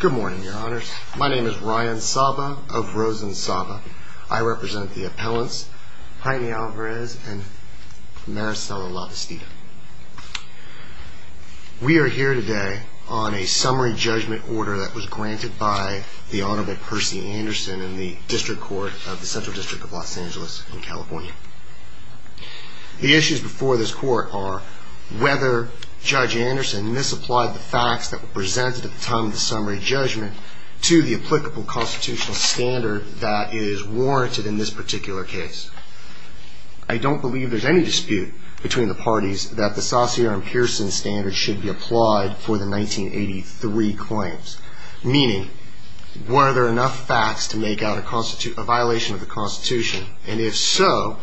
Good morning, your honors. My name is Ryan Saba of Rosen Saba. I represent the appellants Heini Alvarez and Maricela Lavestida We are here today on a summary judgment order that was granted by The Honorable Percy Anderson in the District Court of the Central District of Los Angeles in California the issues before this court are Whether judge Anderson misapplied the facts that were presented at the time of the summary judgment To the applicable constitutional standard that is warranted in this particular case. I Don't believe there's any dispute between the parties that the Saucy arm Pearson standard should be applied for the 1983 claims meaning Were there enough facts to make out a constitute a violation of the Constitution and if so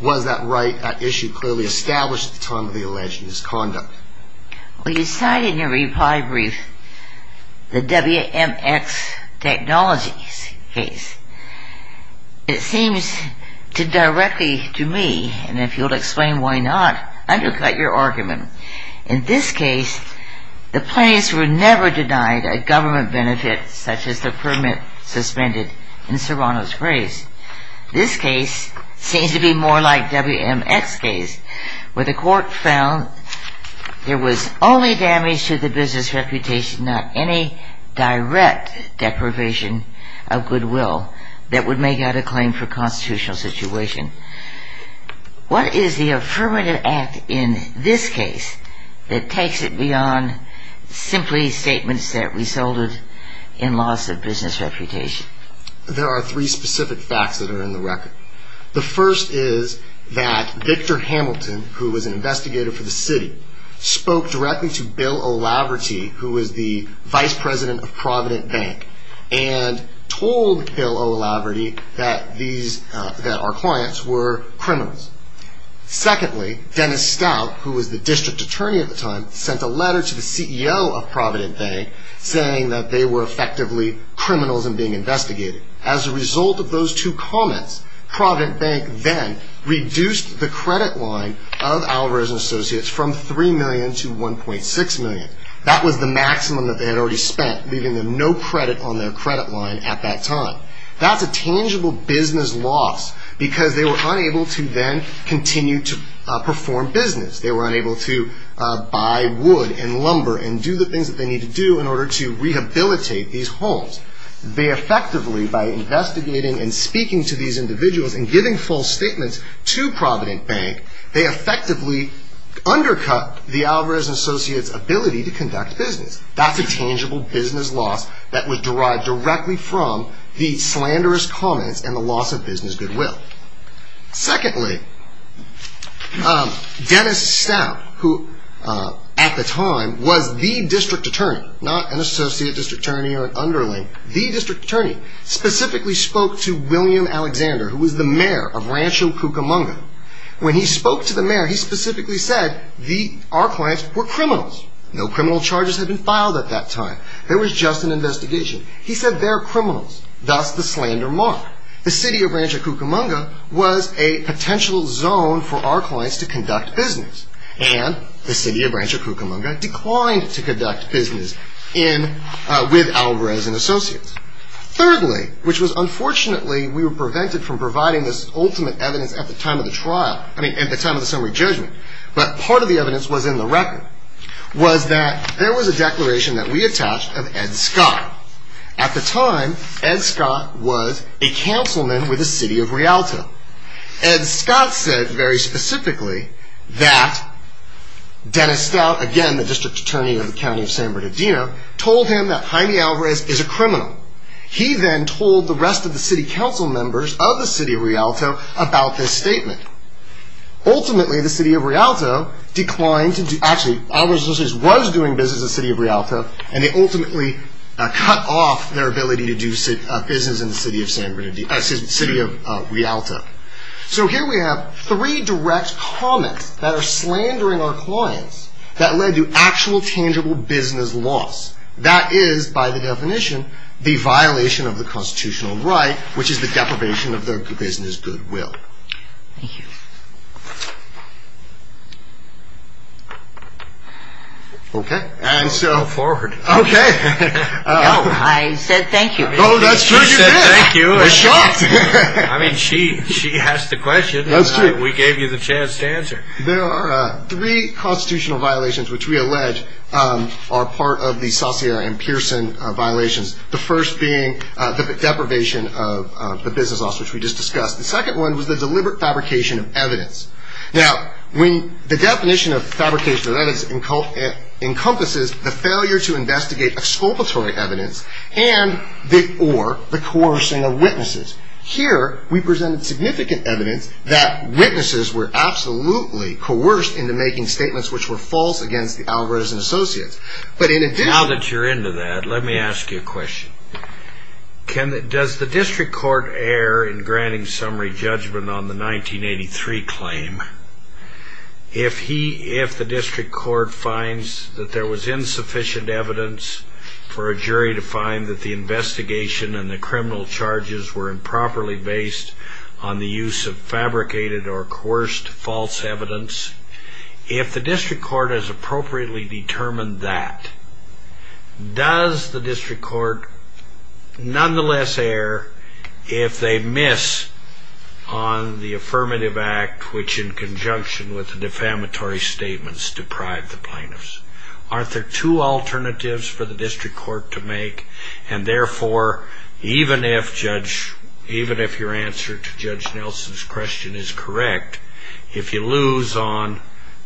Was that right that issue clearly established at the time of the alleged misconduct Well, you cited in your reply brief the WMX technologies case It seems to directly to me and if you'll explain why not Undercut your argument in this case The planes were never denied a government benefit such as the permit suspended in Serrano's grace This case seems to be more like WMX case where the court found There was only damage to the business reputation not any Direct deprivation of goodwill that would make out a claim for constitutional situation What is the affirmative act in this case that takes it beyond? Simply statements that resulted in loss of business reputation There are three specific facts that are in the record The first is that Victor Hamilton who was an investigator for the city? spoke directly to Bill O'Laugherty who was the vice president of Provident Bank and Told Bill O'Laugherty that these that our clients were criminals Secondly Dennis Stout who was the district attorney at the time sent a letter to the CEO of Provident Bank Saying that they were effectively criminals and being investigated as a result of those two comments Provident Bank then Reduced the credit line of Alvarez and Associates from 3 million to 1.6 million That was the maximum that they had already spent leaving them no credit on their credit line at that time That's a tangible business loss because they were unable to then continue to perform business they were unable to Buy wood and lumber and do the things that they need to do in order to rehabilitate these homes They effectively by investigating and speaking to these individuals and giving false statements to Provident Bank. They effectively Undercut the Alvarez and Associates ability to conduct business That's a tangible business loss that was derived directly from the slanderous comments and the loss of business goodwill secondly Dennis Stout who At the time was the district attorney not an associate district attorney or an underling the district attorney Specifically spoke to William Alexander who was the mayor of Rancho Cucamonga When he spoke to the mayor he specifically said the our clients were criminals no criminal charges had been filed at that time There was just an investigation He said they're criminals thus the slander mark the city of Rancho Cucamonga Was a potential zone for our clients to conduct business and the city of Rancho Cucamonga declined to conduct business in with Alvarez and Associates Thirdly which was unfortunately we were prevented from providing this ultimate evidence at the time of the trial I mean at the time of the summary judgment, but part of the evidence was in the record Was that there was a declaration that we attached of Ed Scott at the time? Ed Scott was a councilman with the city of Rialto and Scott said very specifically that Dennis Stout again the district attorney of the county of San Bernardino told him that Jaime Alvarez is a criminal He then told the rest of the city council members of the city of Rialto about this statement ultimately the city of Rialto declined to do actually I was just was doing business the city of Rialto and they ultimately Cut off their ability to do sit up business in the city of San Bernardino city of Rialto So here we have three direct comments that are slandering our clients that led to actual tangible business loss That is by the definition the violation of the constitutional right, which is the deprivation of their business goodwill Okay, and so forward, okay I mean she she asked the question. That's true. We gave you the chance to answer there are three constitutional violations Which we allege are part of the saucier and Pearson violations the first being the deprivation of? The business loss which we just discussed the second one was the deliberate fabrication of evidence now when the definition of fabrication of evidence in cult it encompasses the failure to investigate exculpatory evidence and The or the coercing of witnesses here. We presented significant evidence that witnesses were Absolutely coerced into making statements which were false against the Alvarez and Associates But in it now that you're into that let me ask you a question Can that does the district court air in granting summary judgment on the 1983 claim? If he if the district court finds that there was insufficient evidence for a jury to find that the False evidence if the district court has appropriately determined that Does the district court? nonetheless air if they miss on The affirmative act which in conjunction with the defamatory statements deprive the plaintiffs aren't there two alternatives for the district court to make and therefore even if judge even if your answer to judge Nelson's question is correct is If you lose on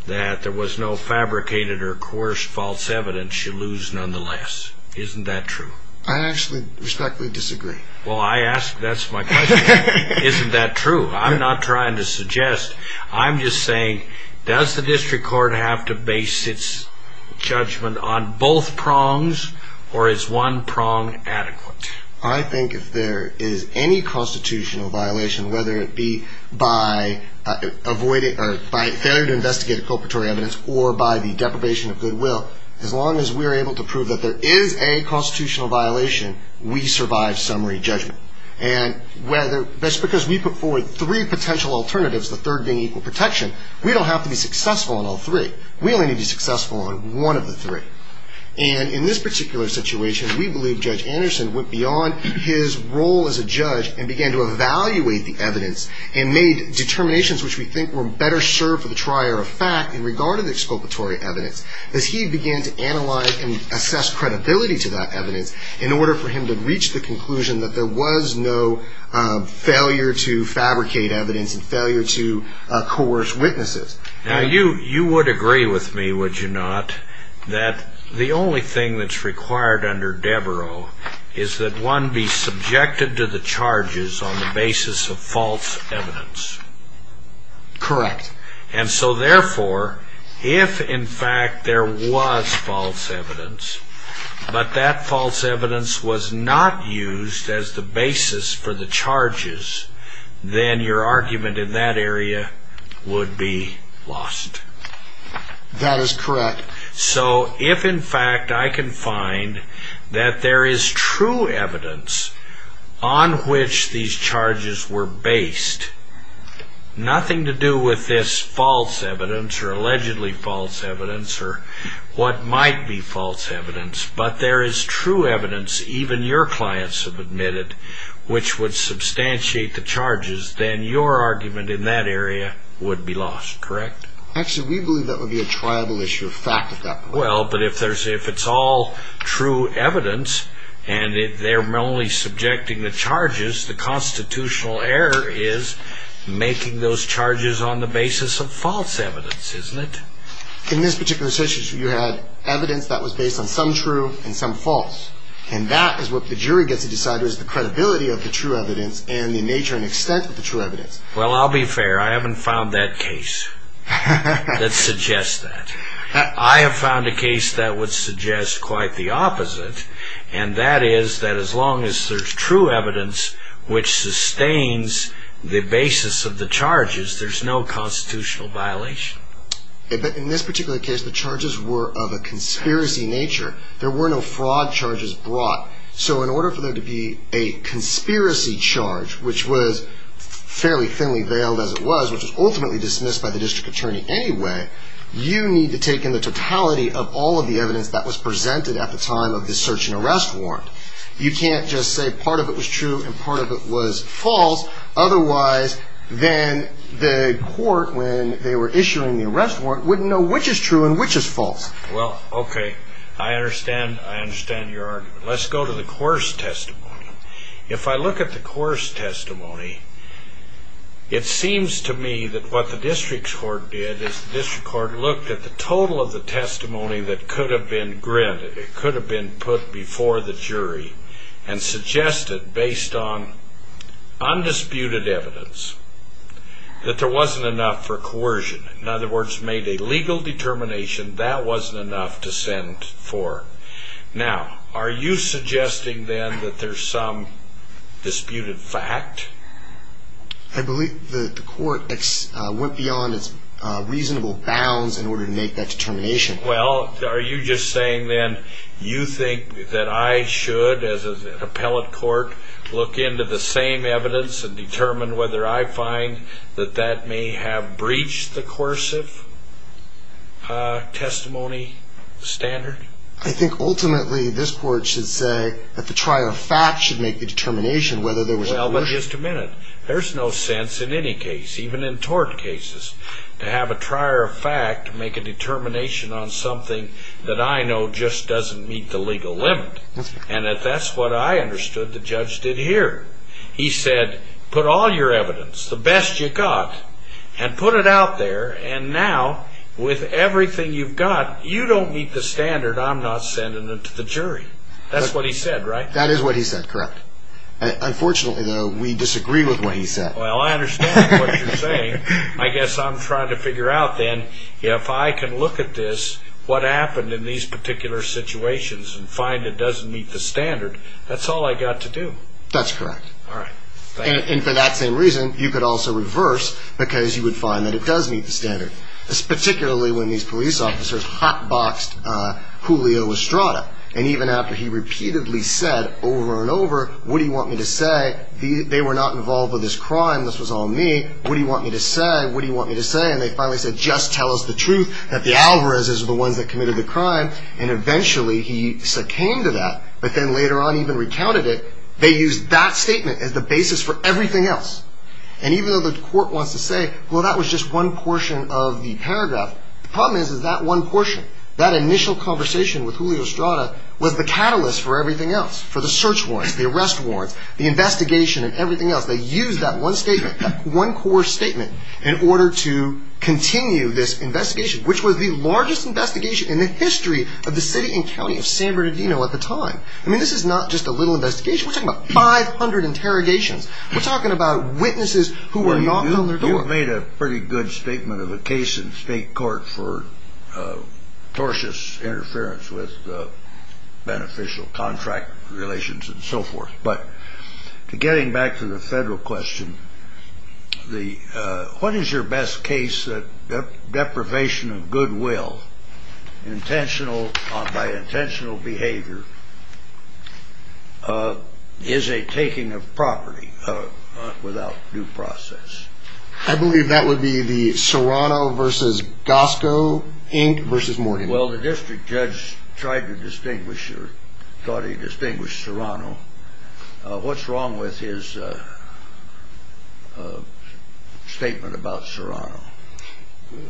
that there was no fabricated or coerced false evidence you lose nonetheless Isn't that true? I actually respectfully disagree. Well, I asked that's my Isn't that true? I'm not trying to suggest. I'm just saying does the district court have to base its Judgment on both prongs or is one prong adequate? I think if there is any constitutional violation whether it be by Avoiding or by failure to investigate a culprit or evidence or by the deprivation of goodwill as long as we are able to prove that there is a constitutional violation we survive summary judgment and Whether that's because we put forward three potential alternatives the third being equal protection We don't have to be successful in all three We only need to be successful in one of the three and in this particular situation We believe judge Anderson went beyond his role as a judge and began to evaluate the evidence and made determinations Which we think were better served for the trier of fact in regard to the exculpatory evidence as he began to analyze and assess Credibility to that evidence in order for him to reach the conclusion that there was no failure to fabricate evidence and failure to Coerce witnesses now you you would agree with me Would you not that the only thing that's required under Deborah is that one be? Subjected to the charges on the basis of false evidence Correct and so therefore if in fact there was false evidence But that false evidence was not used as the basis for the charges Then your argument in that area would be lost That is correct. So if in fact I can find that there is true evidence on Which these charges were based on? Nothing to do with this false evidence or allegedly false evidence or what might be false evidence But there is true evidence even your clients have admitted Which would substantiate the charges then your argument in that area would be lost correct actually? We believe that would be a tribal issue of fact at that well but if there's if it's all true evidence, and if they're only subjecting the charges the constitutional error is Making those charges on the basis of false evidence, isn't it in this particular situation? You had evidence that was based on some true and some false And that is what the jury gets to decide is the credibility of the true evidence and the nature and extent of the true evidence Well, I'll be fair. I haven't found that case That suggests that I have found a case that would suggest quite the opposite And that is that as long as there's true evidence Which sustains the basis of the charges, there's no constitutional violation In this particular case the charges were of a conspiracy nature there were no fraud charges brought so in order for there to be a conspiracy charge which was Fairly thinly veiled as it was which was ultimately dismissed by the district attorney anyway You need to take in the totality of all of the evidence that was presented at the time of this search and arrest warrant You can't just say part of it was true and part of it was false Otherwise then the court when they were issuing the arrest warrant wouldn't know which is true, and which is false well, okay? I understand I understand your argument. Let's go to the course testimony if I look at the course testimony It seems to me that what the district court did is the district court looked at the total of the testimony that could have been Granted it could have been put before the jury and suggested based on undisputed evidence That there wasn't enough for coercion in other words made a legal determination that wasn't enough to send for Now are you suggesting then that there's some? disputed fact I Believe the court X went beyond its Are you just saying then you think that I should as an appellate court? Look into the same evidence and determine whether I find that that may have breached the coercive Testimony Standard I think ultimately this court should say that the trial of fact should make the determination whether there was no But just a minute There's no sense in any case even in tort cases to have a trier of fact to make a determination on something That I know just doesn't meet the legal limit, and if that's what I understood the judge did here He said put all your evidence the best you got and put it out there and now With everything you've got you don't meet the standard. I'm not sending it to the jury. That's what he said, right? That is what he said correct Unfortunately though we disagree with what he said well I understand what you're saying I guess I'm trying to figure out then if I can look at this What happened in these particular situations and find it doesn't meet the standard. That's all I got to do. That's correct all right And for that same reason you could also reverse because you would find that it does meet the standard It's particularly when these police officers hot-boxed And even after he repeatedly said over and over what do you want me to say the they were not involved with this crime This was all me What do you want me to say what do you want me to say and they finally said just tell us the truth that the Alvarez is the ones that committed the crime and eventually he came to that but then later on even recounted it They used that statement as the basis for everything else and even though the court wants to say well That was just one portion of the paragraph the problem is is that one portion that initial conversation with Julio Estrada? Was the catalyst for everything else for the search warrants the arrest warrants the investigation and everything else they use that one statement one core statement in order to Continue this investigation which was the largest investigation in the history of the city and county of San Bernardino at the time I mean, this is not just a little investigation. We're talking about 500 interrogations We're talking about witnesses who were not on their door made a pretty good statement of a case in state court for tortious interference with Beneficial contract relations and so forth but to getting back to the federal question The what is your best case that the deprivation of goodwill? Intentional by intentional behavior Is a taking of property Without due process. I believe that would be the Serrano versus Gosco Inc versus morning Well, the district judge tried to distinguish or thought he distinguished Serrano What's wrong with his? Statement about Serrano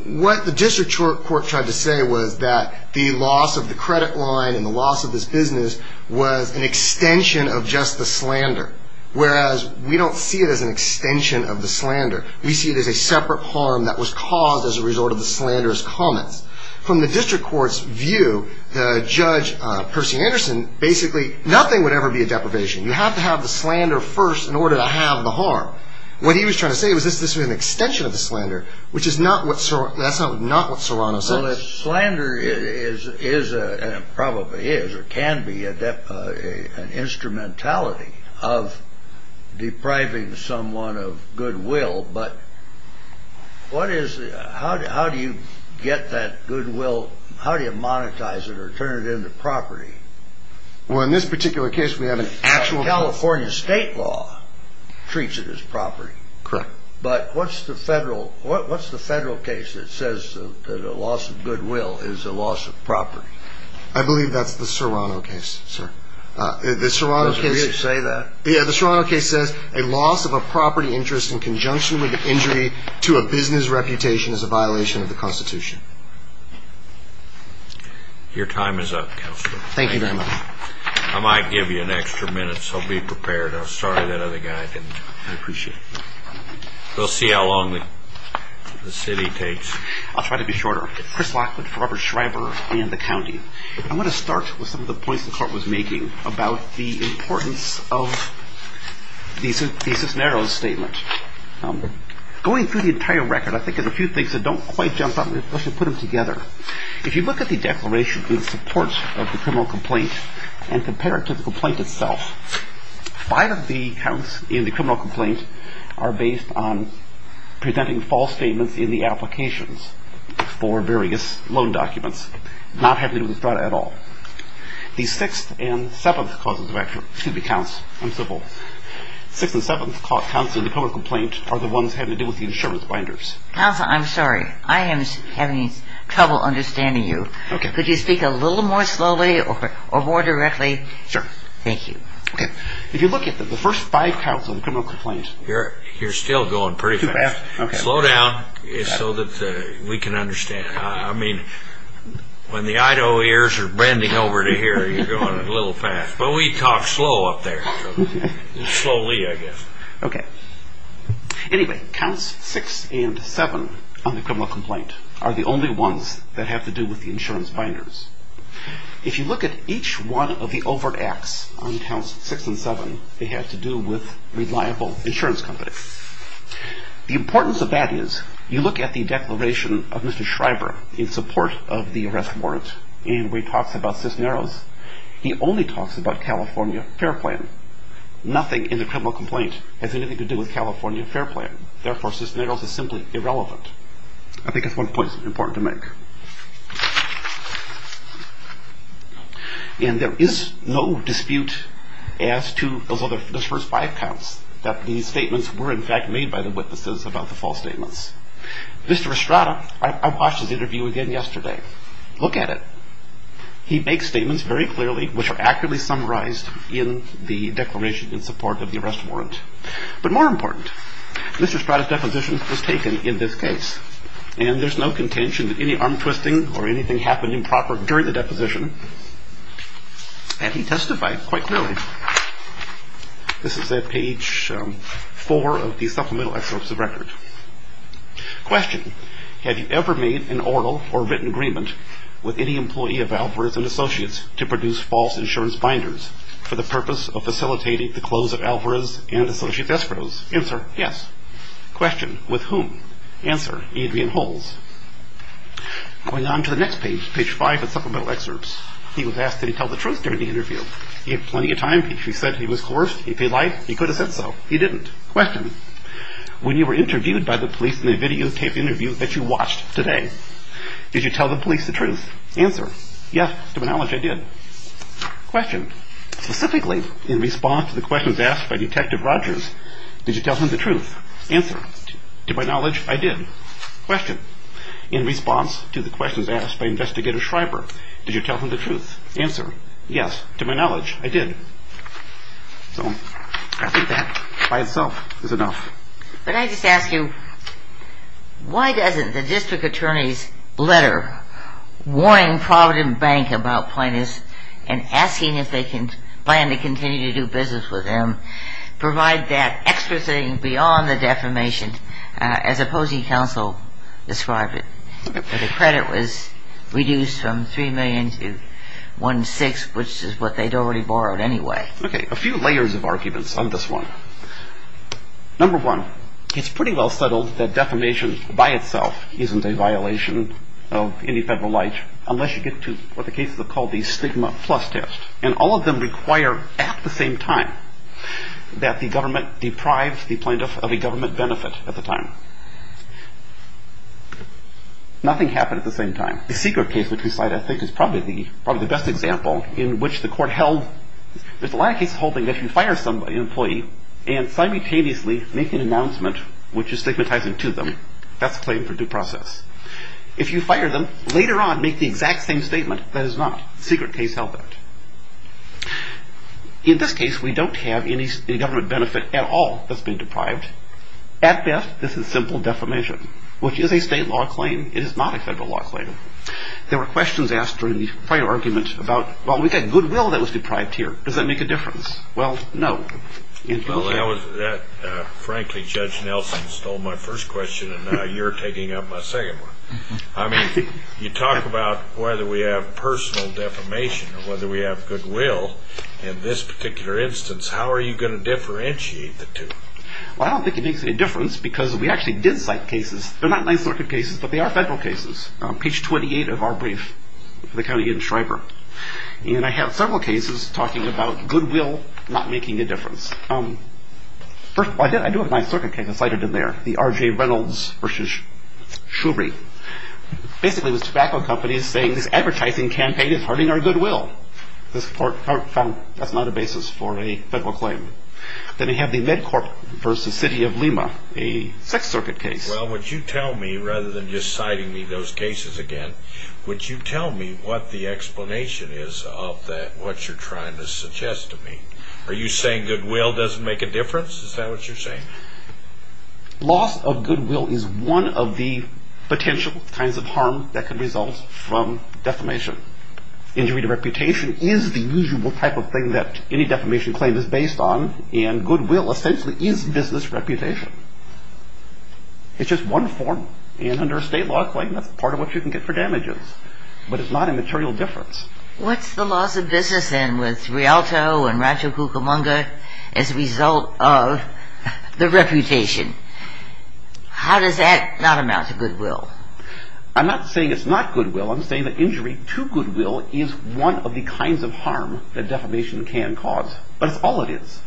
What the district court tried to say was that the loss of the credit line and the loss of this business Was an extension of just the slander whereas we don't see it as an extension of the slander We see it as a separate harm that was caused as a result of the slanderous comments from the district courts view the judge Percy Anderson basically nothing would ever be a deprivation You have to have the slander first in order to have the harm What he was trying to say was this this was an extension of the slander which is not what so that's not not what Serrano so this slander is is a probably is or can be a depth a an instrumentality of depriving someone of goodwill, but What is how do you get that goodwill? How do you monetize it or turn it into property? Well in this particular case, we have an actual California state law Treats it as property correct, but what's the federal what's the federal case? It says that a loss of goodwill is a loss of property. I believe that's the Serrano case sir The Serrano can't say that yeah The Serrano case says a loss of a property interest in conjunction with injury to a business reputation is a violation of the Constitution Your time is up. Thank you very much. I might give you an extra minute, so be prepared I'm sorry that other guy didn't appreciate We'll see how long the The city takes I'll try to be shorter Chris Lockwood for Robert Schreiber and the county I'm going to start with some of the points the court was making about the importance of These pieces narrows statement Going through the entire record. I think there's a few things that don't quite jump up Let's just put them together if you look at the declaration in support of the criminal complaint and compare it to the complaint itself Five of the counts in the criminal complaint are based on presenting false statements in the applications for Various loan documents not having to do with the strata at all These sixth and seventh causes of action to the counts. I'm civil Six and seventh caught counts in the criminal complaint are the ones having to do with the insurance binders. I'm sorry I am having trouble understanding you. Okay, could you speak a little more slowly or more directly sir? Thank you If you look at the first five counts of the criminal complaint here, you're still going pretty fast Slow down is so that we can understand. I mean When the Eido ears are bending over to here, you're going a little fast, but we talk slow up there Slowly, I guess okay Anyway counts six and seven on the criminal complaint are the only ones that have to do with the insurance binders If you look at each one of the overt acts on counts six and seven they have to do with reliable insurance companies The importance of that is you look at the declaration of mr Schreiber in support of the arrest warrant and we talks about Cisneros. He only talks about California Fair plan Nothing in the criminal complaint has anything to do with California Fair plan. Therefore Cisneros is simply irrelevant I think it's one point important to make And there is no dispute as to Those other first five counts that these statements were in fact made by the witnesses about the false statements Mr. Estrada, I watched his interview again yesterday. Look at it He makes statements very clearly which are accurately summarized in the declaration in support of the arrest warrant, but more important Mr. Estrada's deposition was taken in this case and there's no contention that any arm-twisting or anything happened improper during the deposition And he testified quite clearly This is at page four of the supplemental excerpts of record Question have you ever made an oral or written agreement with any employee of Alvarez and Associates to produce false insurance binders? For the purpose of facilitating the close of Alvarez and Associates escrows answer. Yes Question with whom answer Adrian holes Going on to the next page page 5 of supplemental excerpts. He was asked to tell the truth during the interview He had plenty of time. He said he was coerced if he liked he could have said so he didn't question When you were interviewed by the police in a videotape interview that you watched today Did you tell the police the truth answer? Yes to acknowledge I did Question specifically in response to the questions asked by detective Rogers. Did you tell him the truth? Answered to my knowledge. I did question in response to the questions asked by investigator Schreiber Did you tell him the truth answer? Yes to my knowledge I did So I think that by itself is enough, but I just ask you Why doesn't the district attorney's letter? Warning Provident Bank about plaintiffs and asking if they can plan to continue to do business with them Provide that extra thing beyond the defamation as opposing counsel described it The credit was reduced from three million to one six, which is what they'd already borrowed Anyway, okay a few layers of arguments on this one Number one, it's pretty well settled that defamation by itself Isn't a violation of any federal life unless you get to what the cases have called these stigma plus test and all of them require at the same time That the government deprived the plaintiff of a government benefit at the time Nothing happened at the same time the secret case which we cite I think is probably the probably the best example in which the court held There's a lot of case holding that you fire somebody employee and simultaneously make an announcement which is stigmatizing to them That's claim for due process if you fire them later on make the exact same statement. That is not secret case held it In this case we don't have any government benefit at all that's been deprived At best this is simple defamation, which is a state law claim. It is not a federal law claim There were questions asked during the prior argument about well, we've had goodwill that was deprived here. Does that make a difference? Well, no Frankly judge Nelson stole my first question and now you're taking up my second one I mean you talk about whether we have personal defamation or whether we have goodwill In this particular instance, how are you going to differentiate the two? Well, I don't think it makes any difference because we actually did cite cases They're not nice looking cases, but they are federal cases page 28 of our brief for the county in Shriver And I have several cases talking about goodwill not making a difference. Um First I did I do have my circuit case I cited in there the RJ Reynolds versus shubri Basically was tobacco companies saying this advertising campaign is hurting our goodwill This port found that's not a basis for a federal claim Then I have the Medcorp versus City of Lima a sex circuit case Well, would you tell me rather than just citing me those cases again? Would you tell me what the explanation is of that what you're trying to suggest to me? Are you saying goodwill doesn't make a difference? Is that what you're saying? Loss of goodwill is one of the potential kinds of harm that can result from defamation Injury to reputation is the usual type of thing that any defamation claim is based on and goodwill essentially is business reputation It's just one form and under a state law claim. That's part of what you can get for damages, but it's not a material difference What's the loss of business in with Rialto and Ratchapookamunga as a result of? the reputation How does that not amount to goodwill? I'm not saying it's not goodwill I'm saying that injury to goodwill is one of the kinds of harm that defamation can cause but it's all it is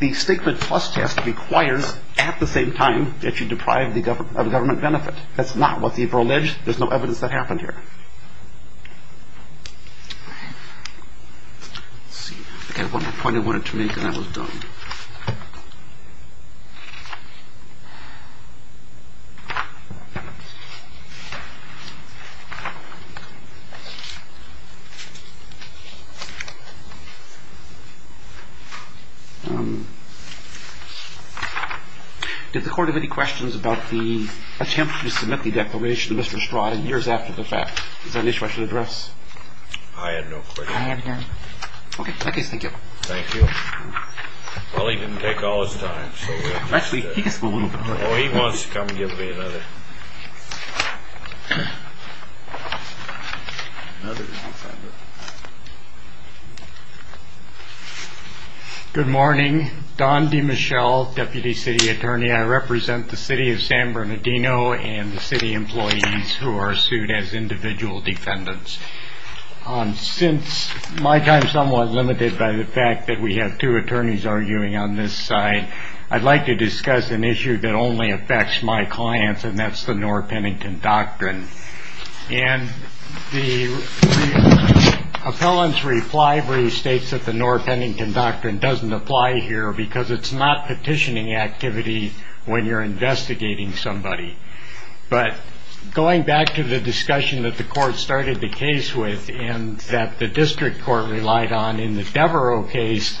The statement plus test requires at the same time that you deprive the government of a government benefit That's not what they've alleged. There's no evidence that happened here See I got one more point I wanted to make and I was done Did the court have any questions about the attempt to submit the declaration to Mr. Stratton years after the fact? Is that an issue I should address? I had no questions Okay, in that case, thank you Thank you I think it's a good point I think it's a good point I think it's a good point He wants to come and give me another Good morning Don DeMichelle deputy city attorney I represent the city of San Bernardino and the city employees who are sued as individual defendants Since my time somewhat limited by the fact that we have two attorneys arguing on this side I'd like to discuss an issue that only affects my clients and that's the nor Pennington doctrine and the Appellant's reply brief states that the nor Pennington doctrine doesn't apply here because it's not petitioning activity when you're investigating somebody But going back to the discussion that the court started the case with and that the district court relied on in the Devereaux case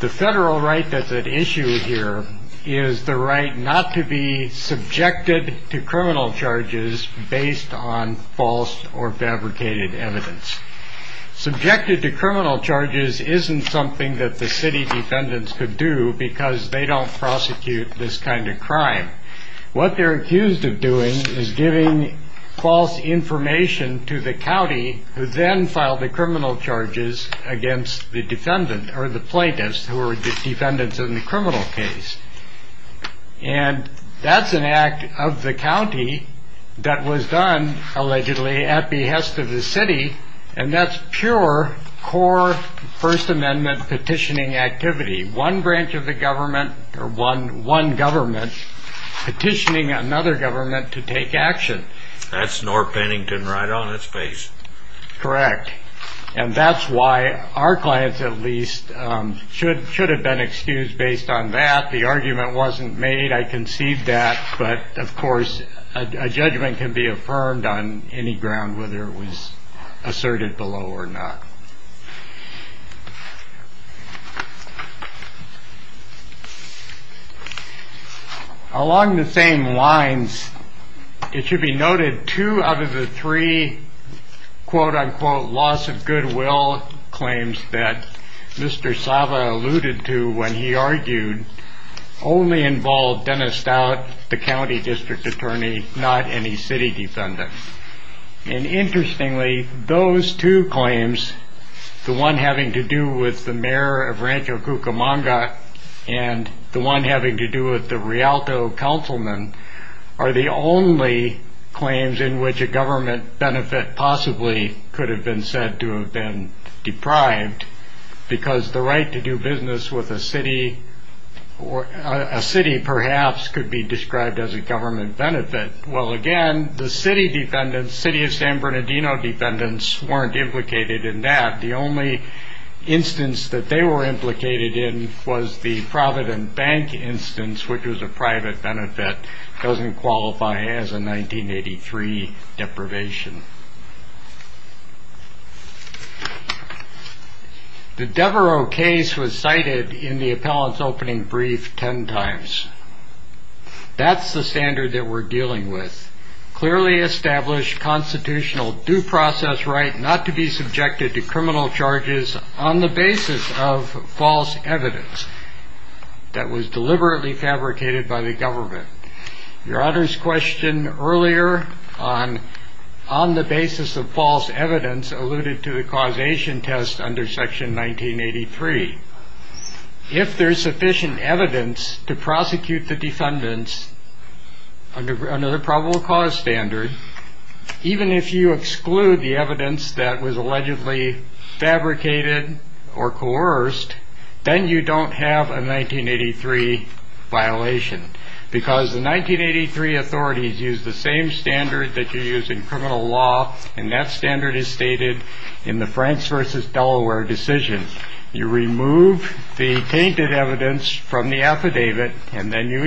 The federal right that's at issue here is the right not to be Subjected to criminal charges based on false or fabricated evidence Subjected to criminal charges isn't something that the city defendants could do because they don't prosecute this kind of crime What they're accused of doing is giving false Information to the county who then filed the criminal charges against the defendant or the plaintiffs who are the defendants in the criminal case and That's an act of the county that was done allegedly at behest of the city and that's pure core First amendment petitioning activity one branch of the government or one one government Petitioning another government to take action. That's nor Pennington right on its face Correct, and that's why our clients at least Should should have been excused based on that the argument wasn't made I conceived that but of course a judgment can be affirmed on any ground whether it was asserted below or not Along the same lines It should be noted two out of the three Quote-unquote loss of goodwill claims that mr. Sava alluded to when he argued only involved Dennis Stout the county district attorney not any city defendant and interestingly those two claims the one having to do with the mayor of Rancho Cucamonga and The one having to do with the Rialto councilman are the only Claims in which a government benefit possibly could have been said to have been deprived because the right to do business with a city or A city perhaps could be described as a government benefit Well again, the city defendants city of San Bernardino defendants weren't implicated in that the only Instance that they were implicated in was the Provident Bank instance which was a private benefit doesn't qualify as a 1983 deprivation The Devereux case was cited in the appellants opening brief ten times That's the standard that we're dealing with clearly established Constitutional due process right not to be subjected to criminal charges on the basis of false evidence That was deliberately fabricated by the government your honor's question earlier on On the basis of false evidence alluded to the causation test under section 1983 If there's sufficient evidence to prosecute the defendants under another probable cause standard Even if you exclude the evidence that was allegedly Fabricated or coerced then you don't have a 1983 violation because the 1983 authorities use the same standard that you use in criminal law and that standard is stated in the France versus Delaware decision you remove the tainted evidence from the affidavit and then you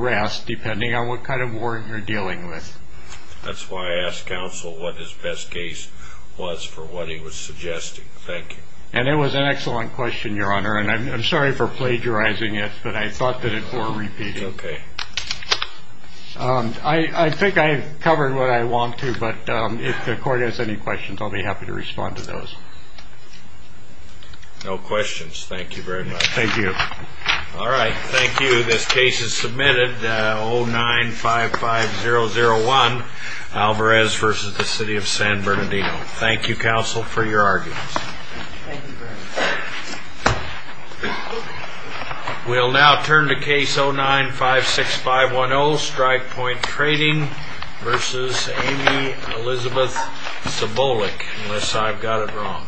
Arrest depending on what kind of warrant you're dealing with That's why I asked counsel what his best case was for what he was suggesting Thank you, and it was an excellent question your honor, and I'm sorry for plagiarizing it, but I thought that it were repeated, okay? I think I've covered what I want to but if the court has any questions. I'll be happy to respond to those No questions, thank you very much. Thank you. All right. Thank you. This case is submitted Oh nine five five zero zero one Alvarez versus the city of San Bernardino. Thank you counsel for your arguments We'll now turn to case oh nine five six five one old strike point trading versus Elizabeth symbolic unless I've got it wrong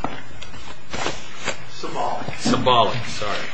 Symbolic symbolic sorry